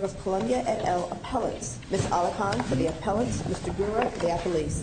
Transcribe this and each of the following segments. of Columbia et al, Appellants. Ms. Alokan for the Appellants, Mr. Gura for the Appellees. Ms. Alokan for the Appellees, Mr. Gura for the Appellees.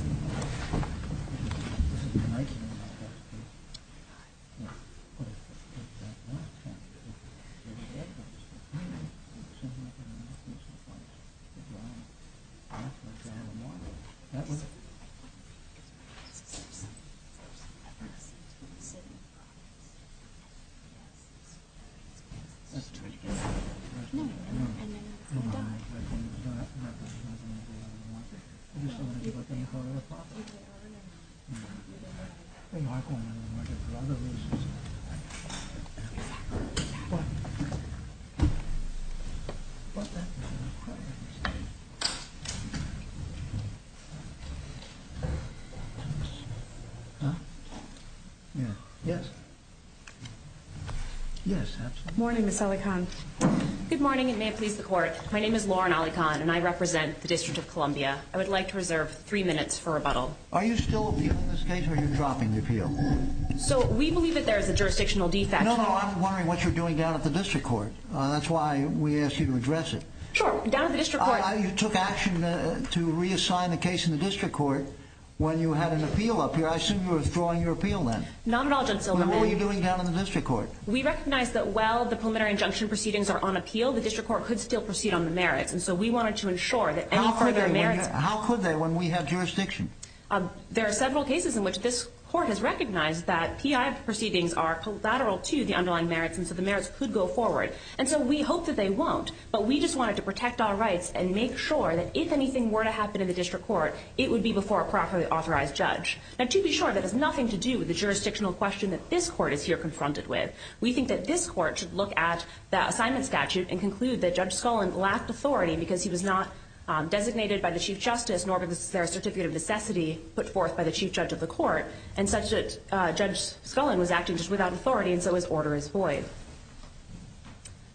Good morning, Ms. Alokan. Good morning, and may it please the Court. My name is Lauren Alokan, and I represent the District of Columbia. I would like to reserve three minutes for rebuttal. Are you still appealing this case, or are you dropping the appeal? So, we believe that there is a jurisdictional defect. No, no, I'm wondering what you're doing down at the District Court. That's why we asked you to address it. Sure, down at the District Court. You took action to reassign a case in the District Court when you had an appeal up here. I assume you were withdrawing your appeal then. Not at all, Judge Silverman. What were you doing down at the District Court? We recognize that while the preliminary injunction proceedings are on appeal, the District Court could still proceed on the merits, and so we wanted to ensure that any further merits... How could they when we have jurisdiction? There are several cases in which this Court has recognized that P.I. proceedings are collateral to the underlying merits, and so the merits could go forward. And so we hope that they won't, but we just wanted to protect our rights and make sure that if anything were to happen in the District Court, it would be before a properly authorized judge. Now, to be sure, that has nothing to do with the jurisdictional question that this Court is here confronted with. We think that this Court should look at the assignment statute and conclude that Judge Scullin lacked authority because he was not designated by the Chief Justice, nor was there a certificate of necessity put forth by the Chief Judge of the Court, and such that Judge Scullin was acting just without authority, and so his order is void.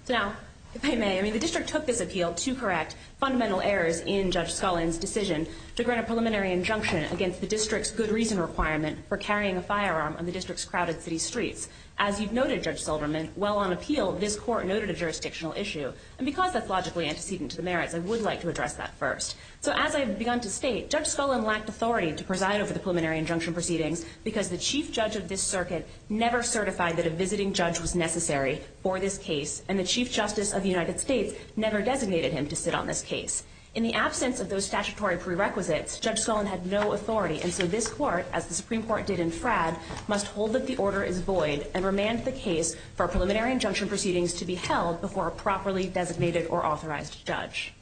Now, if I may, the District took this appeal to correct fundamental errors in Judge Scullin's decision to grant a preliminary injunction against the District's good reason requirement for carrying a firearm on the District's crowded city streets. As you've noted, Judge Silverman, while on appeal, this Court noted a jurisdictional issue, and because that's logically antecedent to the merits, I would like to address that first. So, as I have begun to state, Judge Scullin lacked authority to preside over the preliminary injunction proceedings because the Chief Judge of this Circuit never certified that a visiting judge was necessary for this case, and the Chief Justice of the United States never designated him to sit on this case. In the absence of those statutory prerequisites, Judge Scullin had no authority, and so this Court, as the Supreme Court did in Fradd, must hold that the order is void and remand the case for preliminary injunction proceedings to be held before a properly designated or authorized judge.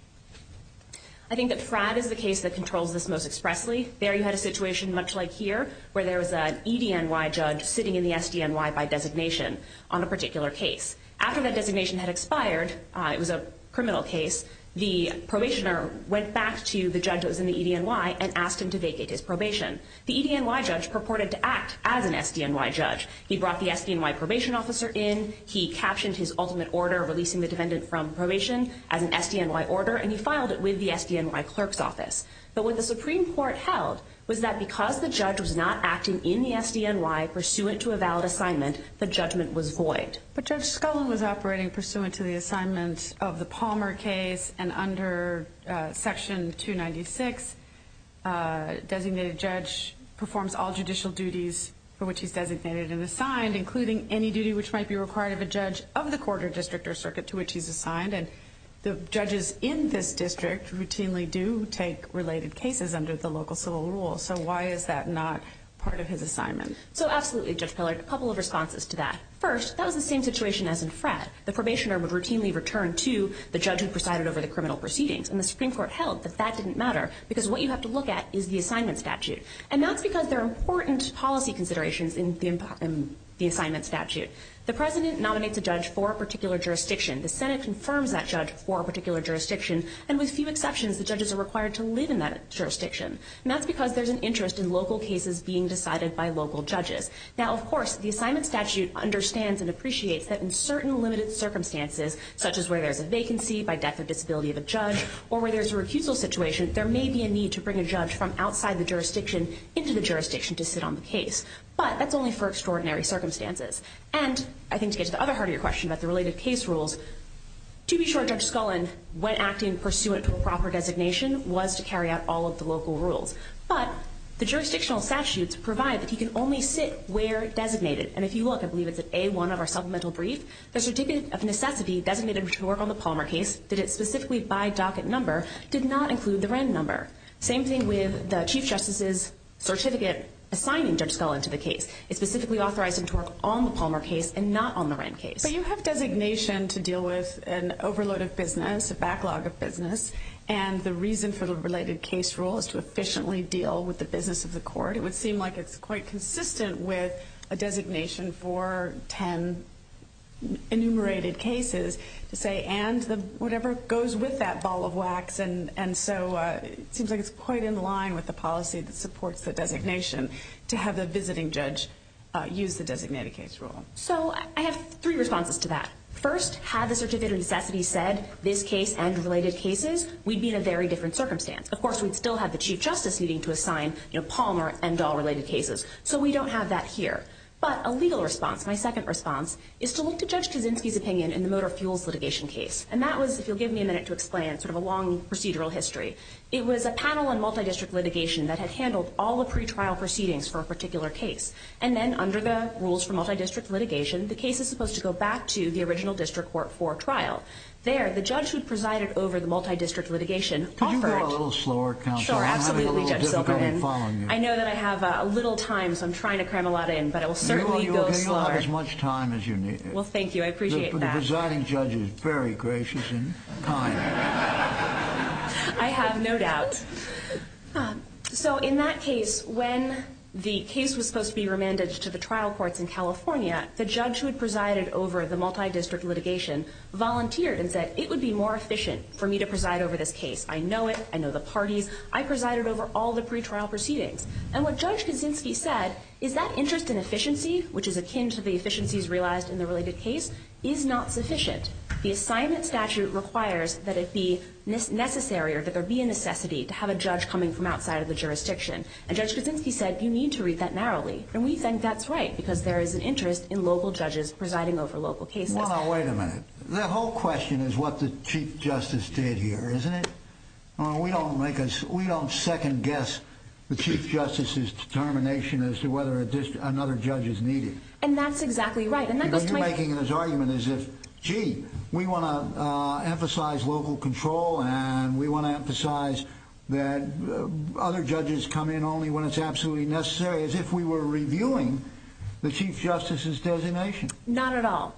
I think that Fradd is the case that controls this most expressly. There, you had a situation much like here, where there was an EDNY judge sitting in the SDNY by designation on a particular case. After that designation had expired, it was a criminal case, the probationer went back to the judge that was in the EDNY and asked him to vacate his probation. The EDNY judge purported to act as an SDNY judge. He brought the SDNY probation officer in, he captioned his ultimate order releasing the defendant from probation as an SDNY order, and he filed it with the SDNY clerk's office. But what the Supreme Court held was that because the judge was not acting in the SDNY pursuant to a valid assignment, the judgment was void. But Judge Scullin was operating pursuant to the assignment of the Palmer case, and under Section 296, a designated judge performs all judicial duties for which he's designated and assigned, including any duty which might be required of a judge of the court or district or circuit to which he's assigned. And the judges in this district routinely do take related cases under the local civil rule, so why is that not part of his assignment? So absolutely, Judge Pillard, a couple of responses to that. First, that was the same situation as in Fratt. The probationer would routinely return to the judge who presided over the criminal proceedings, and the Supreme Court held that that didn't matter because what you have to look at is the assignment statute. And that's because there are important policy considerations in the assignment statute. The president nominates a judge for a particular jurisdiction. The Senate confirms that judge for a particular jurisdiction, and with few exceptions, the judges are required to live in that jurisdiction. And that's because there's an interest in local cases being decided by local judges. Now, of course, the assignment statute understands and appreciates that in certain limited circumstances, such as where there's a vacancy by death of disability of a judge or where there's a recusal situation, there may be a need to bring a judge from outside the jurisdiction into the jurisdiction to sit on the case. But that's only for extraordinary circumstances. And I think to get to the other heart of your question about the related case rules, to be sure Judge Scullin, when acting pursuant to a proper designation, was to carry out all of the local rules. But the jurisdictional statutes provide that he can only sit where designated. And if you look, I believe it's at A1 of our supplemental brief, the certificate of necessity designated to work on the Palmer case, did it specifically by docket number, did not include the Wren number. Same thing with the Chief Justice's certificate assigning Judge Scullin to the case. It specifically authorized him to work on the Palmer case and not on the Wren case. But you have designation to deal with an overload of business, a backlog of business, and the reason for the related case rule is to efficiently deal with the business of the court. It would seem like it's quite consistent with a designation for 10 enumerated cases to say, and whatever goes with that ball of wax. And so it seems like it's quite in line with the policy that supports the designation to have the visiting judge use the designated case rule. So I have three responses to that. First, had the certificate of necessity said this case and related cases, we'd be in a very different circumstance. Of course, we'd still have the Chief Justice needing to assign Palmer and Dahl-related cases. So we don't have that here. But a legal response, my second response, is to look to Judge Kaczynski's opinion in the motor fuels litigation case. And that was, if you'll give me a minute to explain, sort of a long procedural history. It was a panel on multidistrict litigation that had handled all the pretrial proceedings for a particular case. And then under the rules for multidistrict litigation, the case is supposed to go back to the original district court for trial. There, the judge who presided over the multidistrict litigation offered- Could you go a little slower, Counsel? I'm having a little difficulty following you. I know that I have a little time, so I'm trying to cram a lot in. But I will certainly go slower. You'll have as much time as you need. Well, thank you. I appreciate that. The presiding judge is very gracious and kind. I have no doubt. So in that case, when the case was supposed to be remanded to the trial courts in California, the judge who had presided over the multidistrict litigation volunteered and said, it would be more efficient for me to preside over this case. I know it. I know the parties. I presided over all the pretrial proceedings. And what Judge Kaczynski said, is that interest in efficiency, which is akin to the efficiencies realized in the related case, is not sufficient. The assignment statute requires that it be necessary or that there be a necessity to have a judge coming from outside of the jurisdiction. And Judge Kaczynski said, you need to read that narrowly. And we think that's right, because there is an interest in local judges presiding over local cases. Wait a minute. The whole question is what the Chief Justice did here, isn't it? We don't second guess the Chief Justice's determination as to whether another judge is needed. And that's exactly right. You're making this argument as if, gee, we want to emphasize local control and we want to emphasize that other judges come in only when it's absolutely necessary, as if we were reviewing the Chief Justice's designation. Not at all.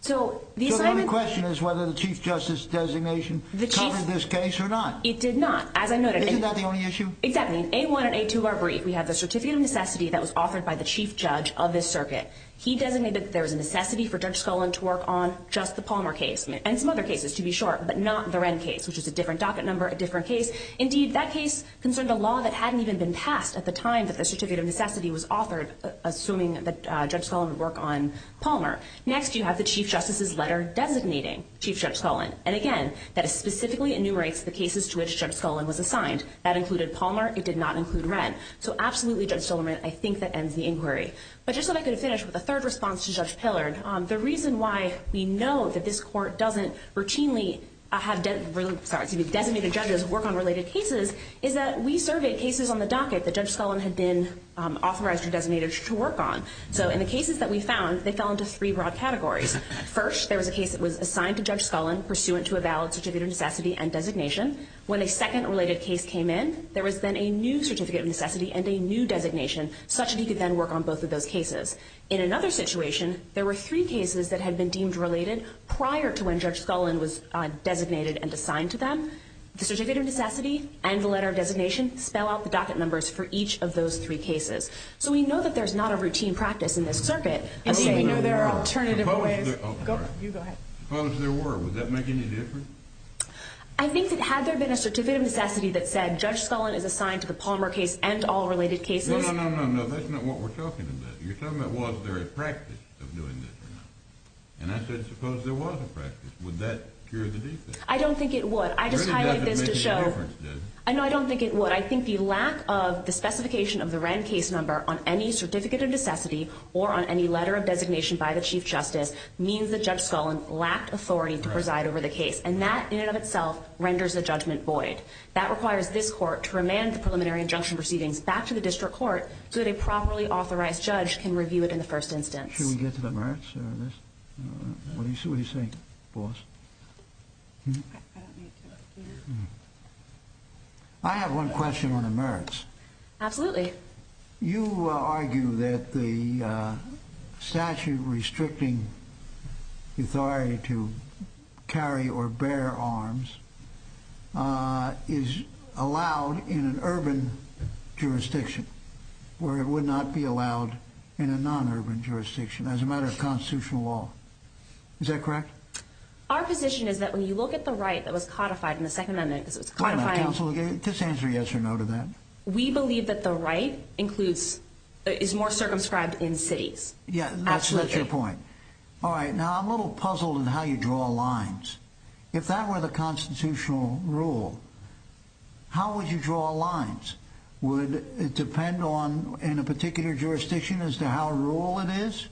So the only question is whether the Chief Justice's designation covered this case or not. It did not, as I noted. Isn't that the only issue? Exactly. In A1 and A2 of our brief, we have the certificate of necessity that was authored by the Chief Judge of this circuit. He designated that there was a necessity for Judge Scullin to work on just the Palmer case and some other cases, to be short, but not the Wren case, which is a different docket number, a different case. Indeed, that case concerned a law that hadn't even been passed at the time that the certificate of necessity was authored, assuming that Judge Scullin would work on Palmer. Next, you have the Chief Justice's letter designating Chief Judge Scullin. And again, that specifically enumerates the cases to which Judge Scullin was assigned. That included Palmer. It did not include Wren. So absolutely, Judge Stillman, I think that ends the inquiry. But just so that I could finish with a third response to Judge Pillard, the reason why we know that this Court doesn't routinely have designated judges work on related cases is that we surveyed cases on the docket that Judge Scullin had been authorized or designated to work on. So in the cases that we found, they fell into three broad categories. First, there was a case that was assigned to Judge Scullin, pursuant to a valid certificate of necessity and designation. When a second related case came in, there was then a new certificate of necessity and a new designation, such that he could then work on both of those cases. In another situation, there were three cases that had been deemed related prior to when Judge Scullin was designated and assigned to them. The certificate of necessity and the letter of designation spell out the docket numbers for each of those three cases. So we know that there's not a routine practice in this circuit of saying there are alternative ways. Suppose there were. Would that make any difference? I think that had there been a certificate of necessity that said, Judge Scullin is assigned to the Palmer case and all related cases. No, no, no, no, no. That's not what we're talking about. You're talking about was there a practice of doing this or not. And I said suppose there was a practice. Would that cure the defect? I don't think it would. I just highlight this to show. I know I don't think it would. I think the lack of the specification of the Wren case number on any certificate of necessity or on any letter of designation by the Chief Justice means that Judge Scullin lacked authority to preside over the case. And that, in and of itself, renders the judgment void. That requires this court to remand the preliminary injunction proceedings back to the district court so that a properly authorized judge can review it in the first instance. Should we get to the merits? What do you think, boss? I have one question on the merits. Absolutely. You argue that the statute restricting authority to carry or bear arms is allowed in an urban jurisdiction where it would not be allowed in a non-urban jurisdiction as a matter of constitutional law. Is that correct? Our position is that when you look at the right that was codified in the Second Amendment, Just answer yes or no to that. We believe that the right is more circumscribed in cities. Yeah, that's your point. All right, now I'm a little puzzled on how you draw lines. If that were the constitutional rule, how would you draw lines? Would it depend on a particular jurisdiction as to how rural it is?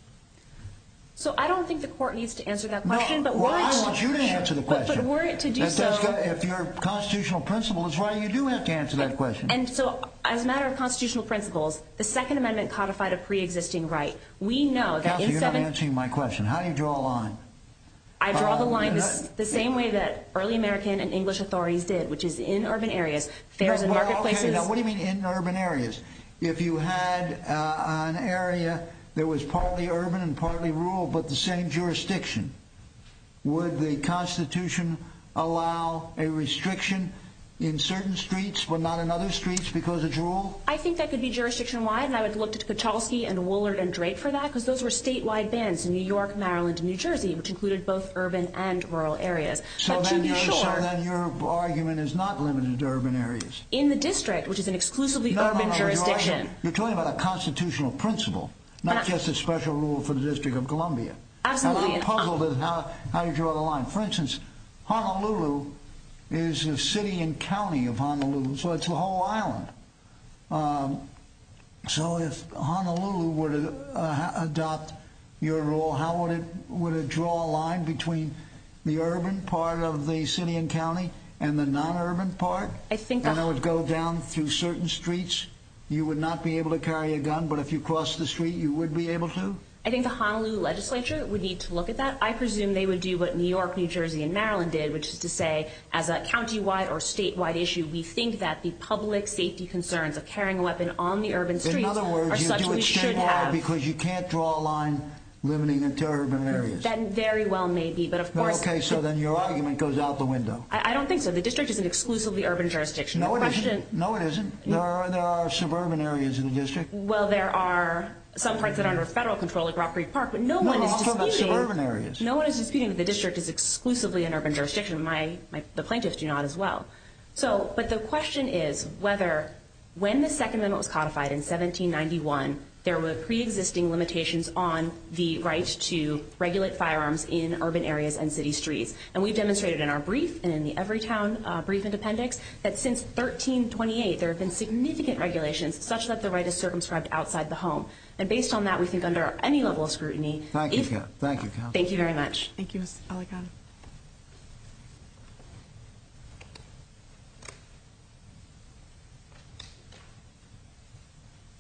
So I don't think the court needs to answer that question. Well, I want you to answer the question. If your constitutional principle is right, you do have to answer that question. And so as a matter of constitutional principles, the Second Amendment codified a pre-existing right. Counsel, you're not answering my question. How do you draw a line? I draw the line the same way that early American and English authorities did, which is in urban areas. What do you mean in urban areas? If you had an area that was partly urban and partly rural but the same jurisdiction, would the Constitution allow a restriction in certain streets but not in other streets because it's rural? I think that could be jurisdiction-wide, and I would look to Kuchelski and Woolard and Drate for that because those were statewide bans in New York, Maryland, and New Jersey, which included both urban and rural areas. So then your argument is not limited to urban areas. In the district, which is an exclusively urban jurisdiction. You're talking about a constitutional principle, not just a special rule for the District of Columbia. Absolutely. I'm puzzled at how you draw the line. For instance, Honolulu is a city and county of Honolulu, so it's a whole island. So if Honolulu were to adopt your rule, how would it draw a line between the urban part of the city and county and the non-urban part? And it would go down through certain streets? You would not be able to carry a gun, but if you crossed the street, you would be able to? I think the Honolulu legislature would need to look at that. I presume they would do what New York, New Jersey, and Maryland did, which is to say, as a county-wide or statewide issue, we think that the public safety concerns of carrying a weapon on the urban streets are such we should have. In other words, you do it statewide because you can't draw a line limiting it to urban areas. That very well may be, but of course— Okay, so then your argument goes out the window. I don't think so. The district is an exclusively urban jurisdiction. No, it isn't. No, it isn't. There are suburban areas in the district. Well, there are some parts that are under federal control, like Rock Creek Park, but no one is disputing— But also lots of urban areas. No one is disputing that the district is exclusively an urban jurisdiction. The plaintiffs do not as well. But the question is whether, when the second amendment was codified in 1791, there were preexisting limitations on the right to regulate firearms in urban areas and city streets. And we've demonstrated in our brief and in the Everytown Brief and Appendix that since 1328, there have been significant regulations such that the right is circumscribed outside the home. And based on that, we think under any level of scrutiny— Thank you, Kat. Thank you, Kat. Thank you very much. Thank you, Ms. Aligata.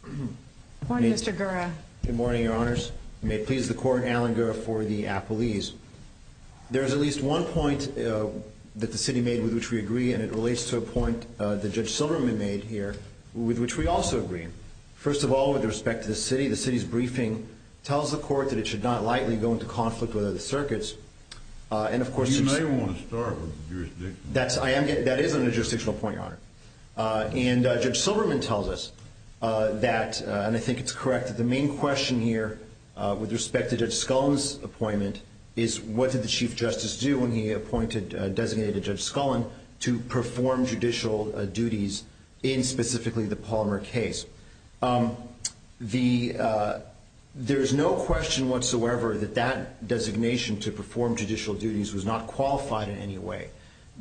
Good morning, Mr. Gura. Good morning, Your Honors. You may please the Court, Allen Gura for the appellees. There is at least one point that the city made with which we agree, and it relates to a point that Judge Silverman made here with which we also agree. First of all, with respect to the city, the city's briefing tells the Court that it should not lightly go into conflict with other circuits. And, of course— You may want to start with the jurisdiction. That is a jurisdictional point, Your Honor. And Judge Silverman tells us that—and I think it's correct— that the main question here with respect to Judge Scullin's appointment is what did the Chief Justice do when he appointed—designated Judge Scullin to perform judicial duties in specifically the Palmer case? There is no question whatsoever that that designation to perform judicial duties was not qualified in any way.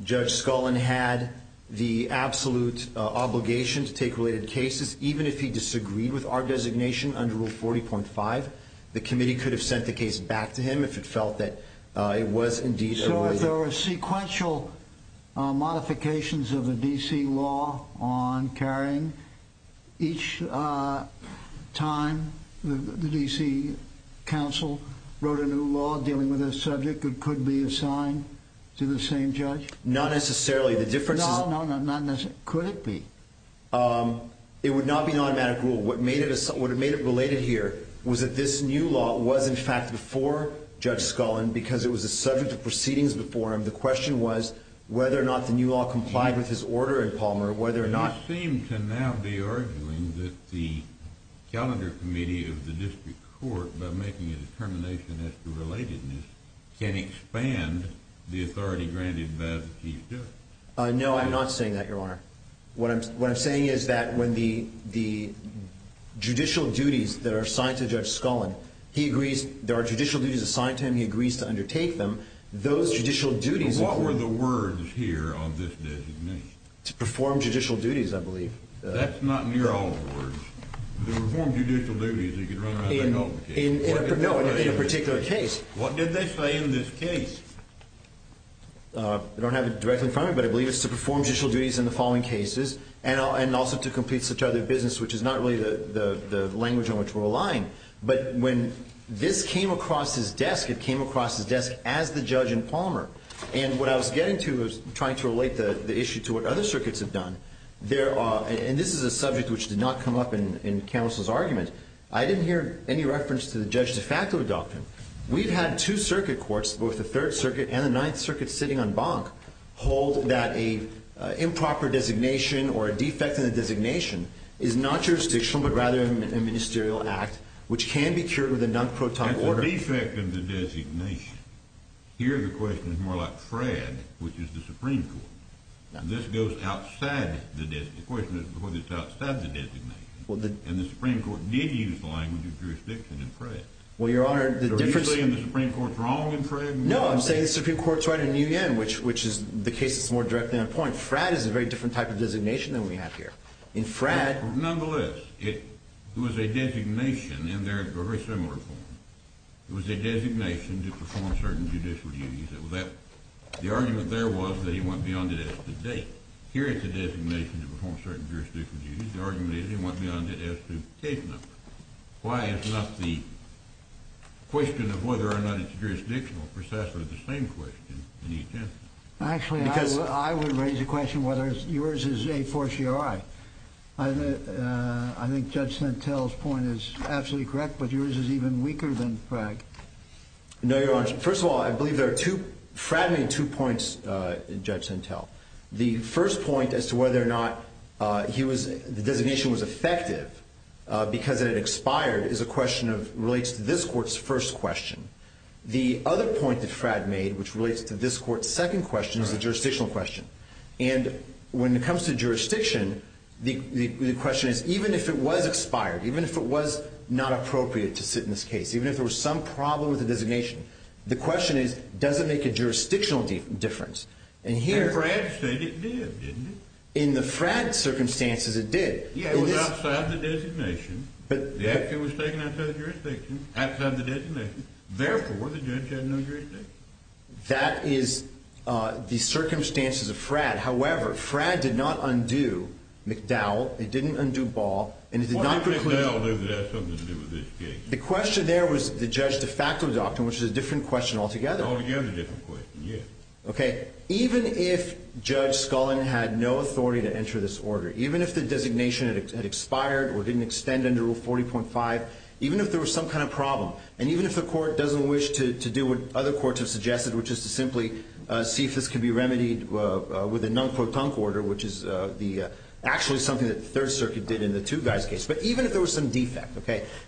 Judge Scullin had the absolute obligation to take related cases. Even if he disagreed with our designation under Rule 40.5, the committee could have sent the case back to him if it felt that it was indeed— So if there were sequential modifications of the D.C. law on carrying, each time the D.C. counsel wrote a new law dealing with this subject, it could be assigned to the same judge? Not necessarily. The difference is— No, no, no, not necessarily. Could it be? It would not be an automatic rule. What made it related here was that this new law was in fact before Judge Scullin because it was a subject of proceedings before him. The question was whether or not the new law complied with his order in Palmer, whether or not— You seem to now be arguing that the calendar committee of the district court, by making a determination as to relatedness, can expand the authority granted by the Chief Justice. No, I'm not saying that, Your Honor. What I'm saying is that when the judicial duties that are assigned to Judge Scullin, there are judicial duties assigned to him, he agrees to undertake them. Those judicial duties— What were the words here on this designation? To perform judicial duties, I believe. That's not near all the words. To perform judicial duties, you could run right back off the case. No, in a particular case. What did they say in this case? I don't have it directly in front of me, but I believe it's to perform judicial duties in the following cases and also to complete such other business, which is not really the language on which we're relying. But when this came across his desk, it came across his desk as the judge in Palmer. And what I was getting to was trying to relate the issue to what other circuits have done. And this is a subject which did not come up in Counsel's argument. I didn't hear any reference to the judge de facto doctrine. We've had two circuit courts, both the Third Circuit and the Ninth Circuit sitting en banc, hold that an improper designation or a defect in the designation is not jurisdictional but rather a ministerial act which can be cured with a non-proton order. That's a defect in the designation. Here the question is more like Fred, which is the Supreme Court. This goes outside the designation. The question is whether it's outside the designation. And the Supreme Court did use the language of jurisdiction in Fred. Are you saying the Supreme Court's wrong in Fred? No, I'm saying the Supreme Court's right in Nguyen, which is the case that's more directly on point. Fred is a very different type of designation than we have here. Nonetheless, it was a designation in a very similar form. It was a designation to perform certain judicial duties. The argument there was that he went beyond it as to date. Here it's a designation to perform certain jurisdictional duties. The argument is he went beyond it as to case number. Why is not the question of whether or not it's jurisdictional precisely the same question in each instance? Actually, I would raise the question whether yours is a fortiori. I think Judge Sentel's point is absolutely correct, but yours is even weaker than Fred. No, Your Honor. First of all, I believe there are two, fragmenting two points in Judge Sentel. The first point as to whether or not the designation was effective because it expired relates to this court's first question. The other point that Fred made, which relates to this court's second question, is a jurisdictional question. When it comes to jurisdiction, the question is even if it was expired, even if it was not appropriate to sit in this case, even if there was some problem with the designation, the question is does it make a jurisdictional difference? And Fred said it did, didn't it? In the Fred circumstances, it did. It was outside the designation. The action was taken outside the jurisdiction, outside the designation. Therefore, the judge had no jurisdiction. That is the circumstances of Fred. However, Fred did not undo McDowell. It didn't undo Ball. What did McDowell do that had something to do with this case? The question there was the judge de facto doctrine, which is a different question altogether. Altogether a different question, yes. Even if Judge Scullin had no authority to enter this order, even if the designation had expired or didn't extend under Rule 40.5, even if there was some kind of problem, and even if the court doesn't wish to do what other courts have suggested, which is to simply see if this could be remedied with a non-quotunct order, which is actually something that the Third Circuit did in the two-guys case. But even if there was some defect,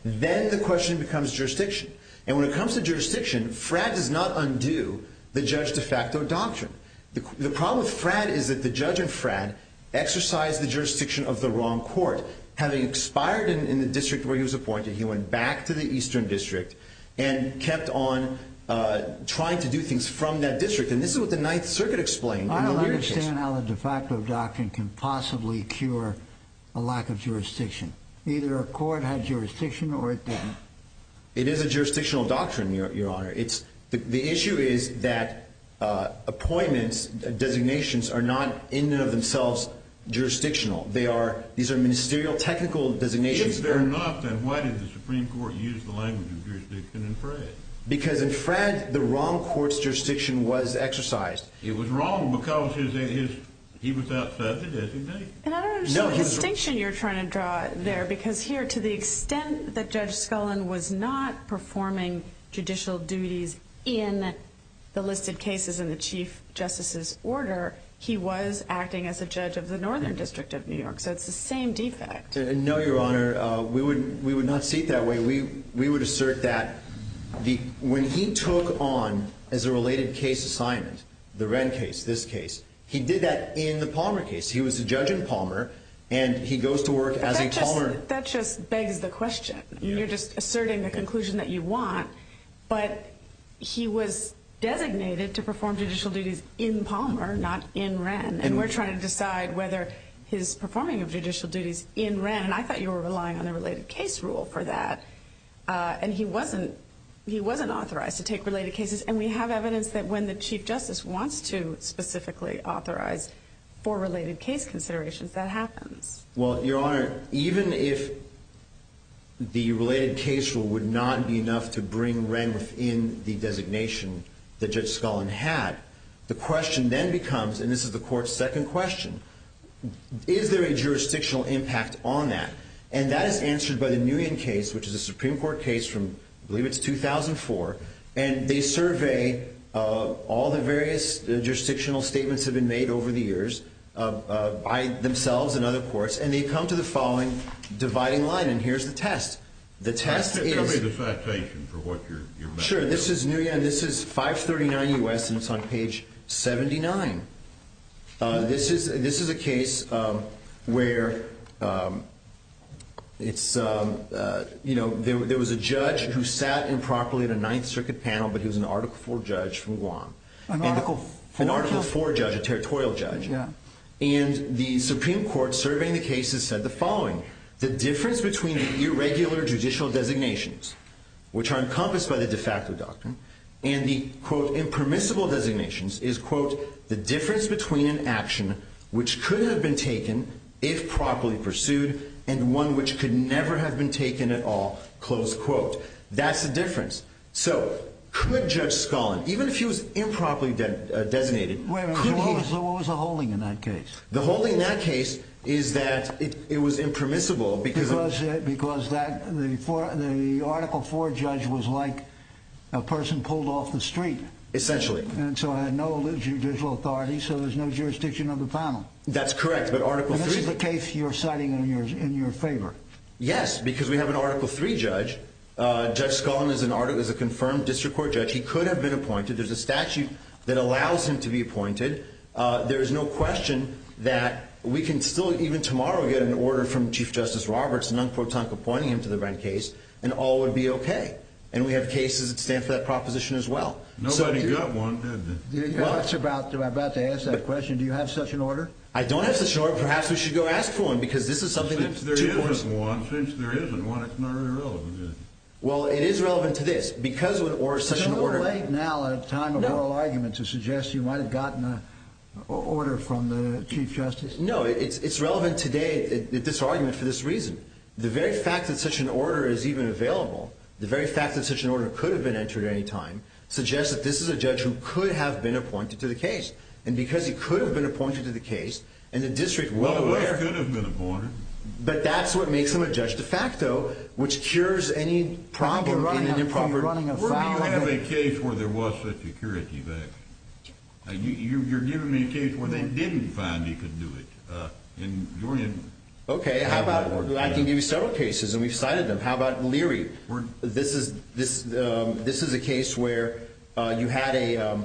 then the question becomes jurisdiction. And when it comes to jurisdiction, Fred does not undo the judge de facto doctrine. The problem with Fred is that the judge in Fred exercised the jurisdiction of the wrong court. Having expired in the district where he was appointed, he went back to the Eastern District and kept on trying to do things from that district. And this is what the Ninth Circuit explained. I don't understand how the de facto doctrine can possibly cure a lack of jurisdiction. Either a court had jurisdiction or it didn't. It is a jurisdictional doctrine, Your Honor. The issue is that appointments, designations, are not in and of themselves jurisdictional. These are ministerial technical designations. If they're not, then why did the Supreme Court use the language of jurisdiction in Fred? Because in Fred, the wrong court's jurisdiction was exercised. It was wrong because he was outside the designation. And I don't understand the distinction you're trying to draw there. Because here, to the extent that Judge Scullin was not performing judicial duties in the listed cases in the Chief Justice's order, he was acting as a judge of the Northern District of New York. So it's the same defect. No, Your Honor. We would not see it that way. We would assert that when he took on, as a related case assignment, the Wren case, this case, he did that in the Palmer case. He was a judge in Palmer, and he goes to work as a Palmer. That just begs the question. You're just asserting the conclusion that you want. But he was designated to perform judicial duties in Palmer, not in Wren. And we're trying to decide whether his performing of judicial duties in Wren. And I thought you were relying on the related case rule for that. And he wasn't authorized to take related cases. And we have evidence that when the Chief Justice wants to specifically authorize for related case considerations, that happens. Well, Your Honor, even if the related case rule would not be enough to bring Wren within the designation that Judge Scullin had, the question then becomes, and this is the Court's second question, is there a jurisdictional impact on that? And that is answered by the Nguyen case, which is a Supreme Court case from, I believe it's 2004. And they survey all the various jurisdictional statements that have been made over the years by themselves and other courts, and they come to the following dividing line. And here's the test. The test is. Can you give me the citation for what you're making? Sure. This is Nguyen. This is 539 U.S., and it's on page 79. This is a case where it's, you know, there was a judge who sat improperly in a Ninth Circuit panel, but he was an Article IV judge from Guam. An Article IV judge. An Article IV judge, a territorial judge. Yeah. And the Supreme Court, surveying the cases, said the following. The difference between irregular judicial designations, which are encompassed by the de facto doctrine, and the, quote, impermissible designations is, quote, the difference between an action which couldn't have been taken if properly pursued and one which could never have been taken at all, close quote. That's the difference. So could Judge Scullin, even if he was improperly designated. Wait a minute. What was the holding in that case? The holding in that case is that it was impermissible because. Because the Article IV judge was like a person pulled off the street. Essentially. And so I had no judicial authority, so there's no jurisdiction of the panel. That's correct, but Article III. And this is the case you're citing in your favor. Yes, because we have an Article III judge. Judge Scullin is a confirmed district court judge. He could have been appointed. There's a statute that allows him to be appointed. There is no question that we can still, even tomorrow, get an order from Chief Justice Roberts, non-quote-unquote, appointing him to the red case, and all would be okay. And we have cases that stand for that proposition as well. Nobody got one, did they? I was about to ask that question. Do you have such an order? I don't have such an order. Perhaps we should go ask for one because this is something that... Since there isn't one, it's not really relevant, is it? Well, it is relevant to this. Isn't it a little late now, at a time of oral argument, to suggest you might have gotten an order from the Chief Justice? No, it's relevant today, this argument, for this reason. The very fact that such an order is even available, the very fact that such an order could have been entered at any time, suggests that this is a judge who could have been appointed to the case. And because he could have been appointed to the case, and the district is well aware... Well, the judge could have been appointed. But that's what makes him a judge de facto, which cures any problem in an improper... Where do you have a case where there was such a curative action? You're giving me a case where they didn't find he could do it. Okay, how about... I can give you several cases, and we've cited them. How about Leary? This is a case where you had a...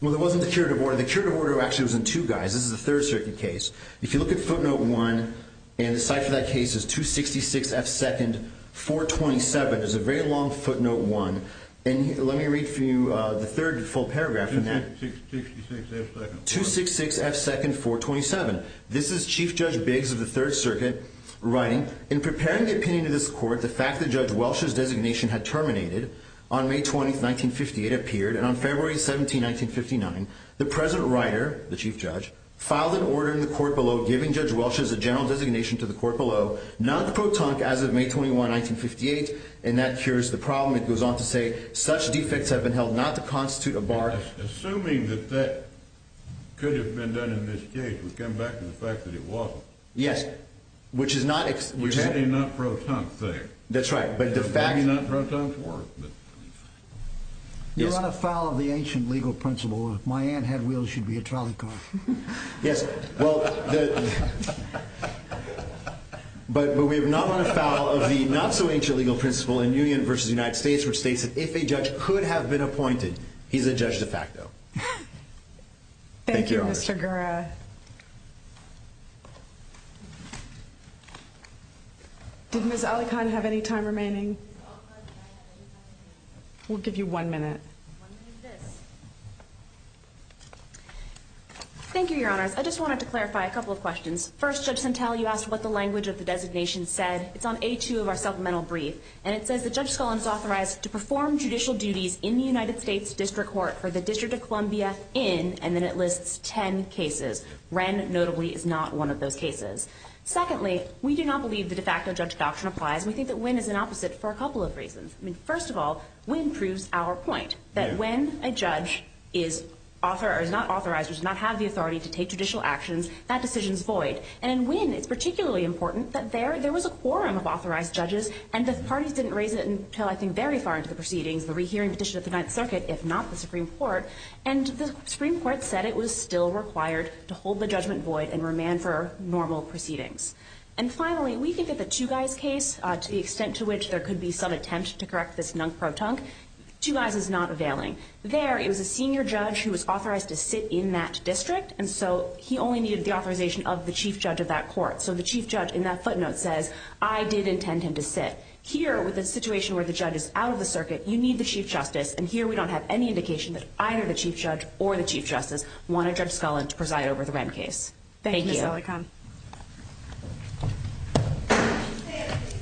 Well, it wasn't the curative order. The curative order actually was in two guys. This is a Third Circuit case. If you look at footnote 1, and the site for that case is 266 F. 2nd. 427. It's a very long footnote 1. And let me read for you the third full paragraph in that. 266 F. 2nd. 266 F. 2nd. 427. This is Chief Judge Biggs of the Third Circuit writing, In preparing the opinion of this court, the fact that Judge Welch's designation had terminated on May 20th, 1958, appeared, and on February 17th, 1959, the present writer, the Chief Judge, filed an order in the court below giving Judge Welch's general designation to the court below, not the pro-tunc as of May 21, 1958, and that cures the problem. It goes on to say, Such defects have been held not to constitute a bar... Assuming that that could have been done in this case, we come back to the fact that it wasn't. Yes. Which is not... We had a not pro-tunc thing. That's right, but the fact... It's not pro-tunc work, but... You're on a foul of the ancient legal principle. If my aunt had wheels, she'd be a trolley car. Yes, well... But we're not on a foul of the not-so-ancient legal principle in Union v. United States, which states that if a judge could have been appointed, he's a judge de facto. Thank you, Mr. Gura. Did Ms. Alikhan have any time remaining? We'll give you one minute. Thank you, Your Honors. I just wanted to clarify a couple of questions. First, Judge Sentell, you asked what the language of the designation said. It's on A2 of our supplemental brief, and it says that Judge Scullin is authorized to perform judicial duties in the United States District Court for the District of Columbia in, and then it lists, ten cases. Wren, notably, is not one of those cases. Secondly, we do not believe the de facto judge doctrine applies, and we think that Wren is an opposite for a couple of reasons. First of all, Wren proves our point, that when a judge is not authorized or does not have the authority to take judicial actions, that decision is void. And in Wren, it's particularly important that there was a quorum of authorized judges, and the parties didn't raise it until, I think, very far into the proceedings, the rehearing petition at the Ninth Circuit, if not the Supreme Court, and the Supreme Court said it was still required to hold the judgment void and remand for normal proceedings. And finally, we think that the Two Guys case, to the extent to which there could be some attempt to correct this nunk-pro-tunk, Two Guys is not availing. There, it was a senior judge who was authorized to sit in that district, and so he only needed the authorization of the chief judge of that court. So the chief judge, in that footnote, says, I did intend him to sit. Here, with a situation where the judge is out of the circuit, you need the chief justice, and here we don't have any indication that either the chief judge or the chief justice wanted Judge Scullin to preside over the Wren case. Thank you. Thank you, Senatorcom.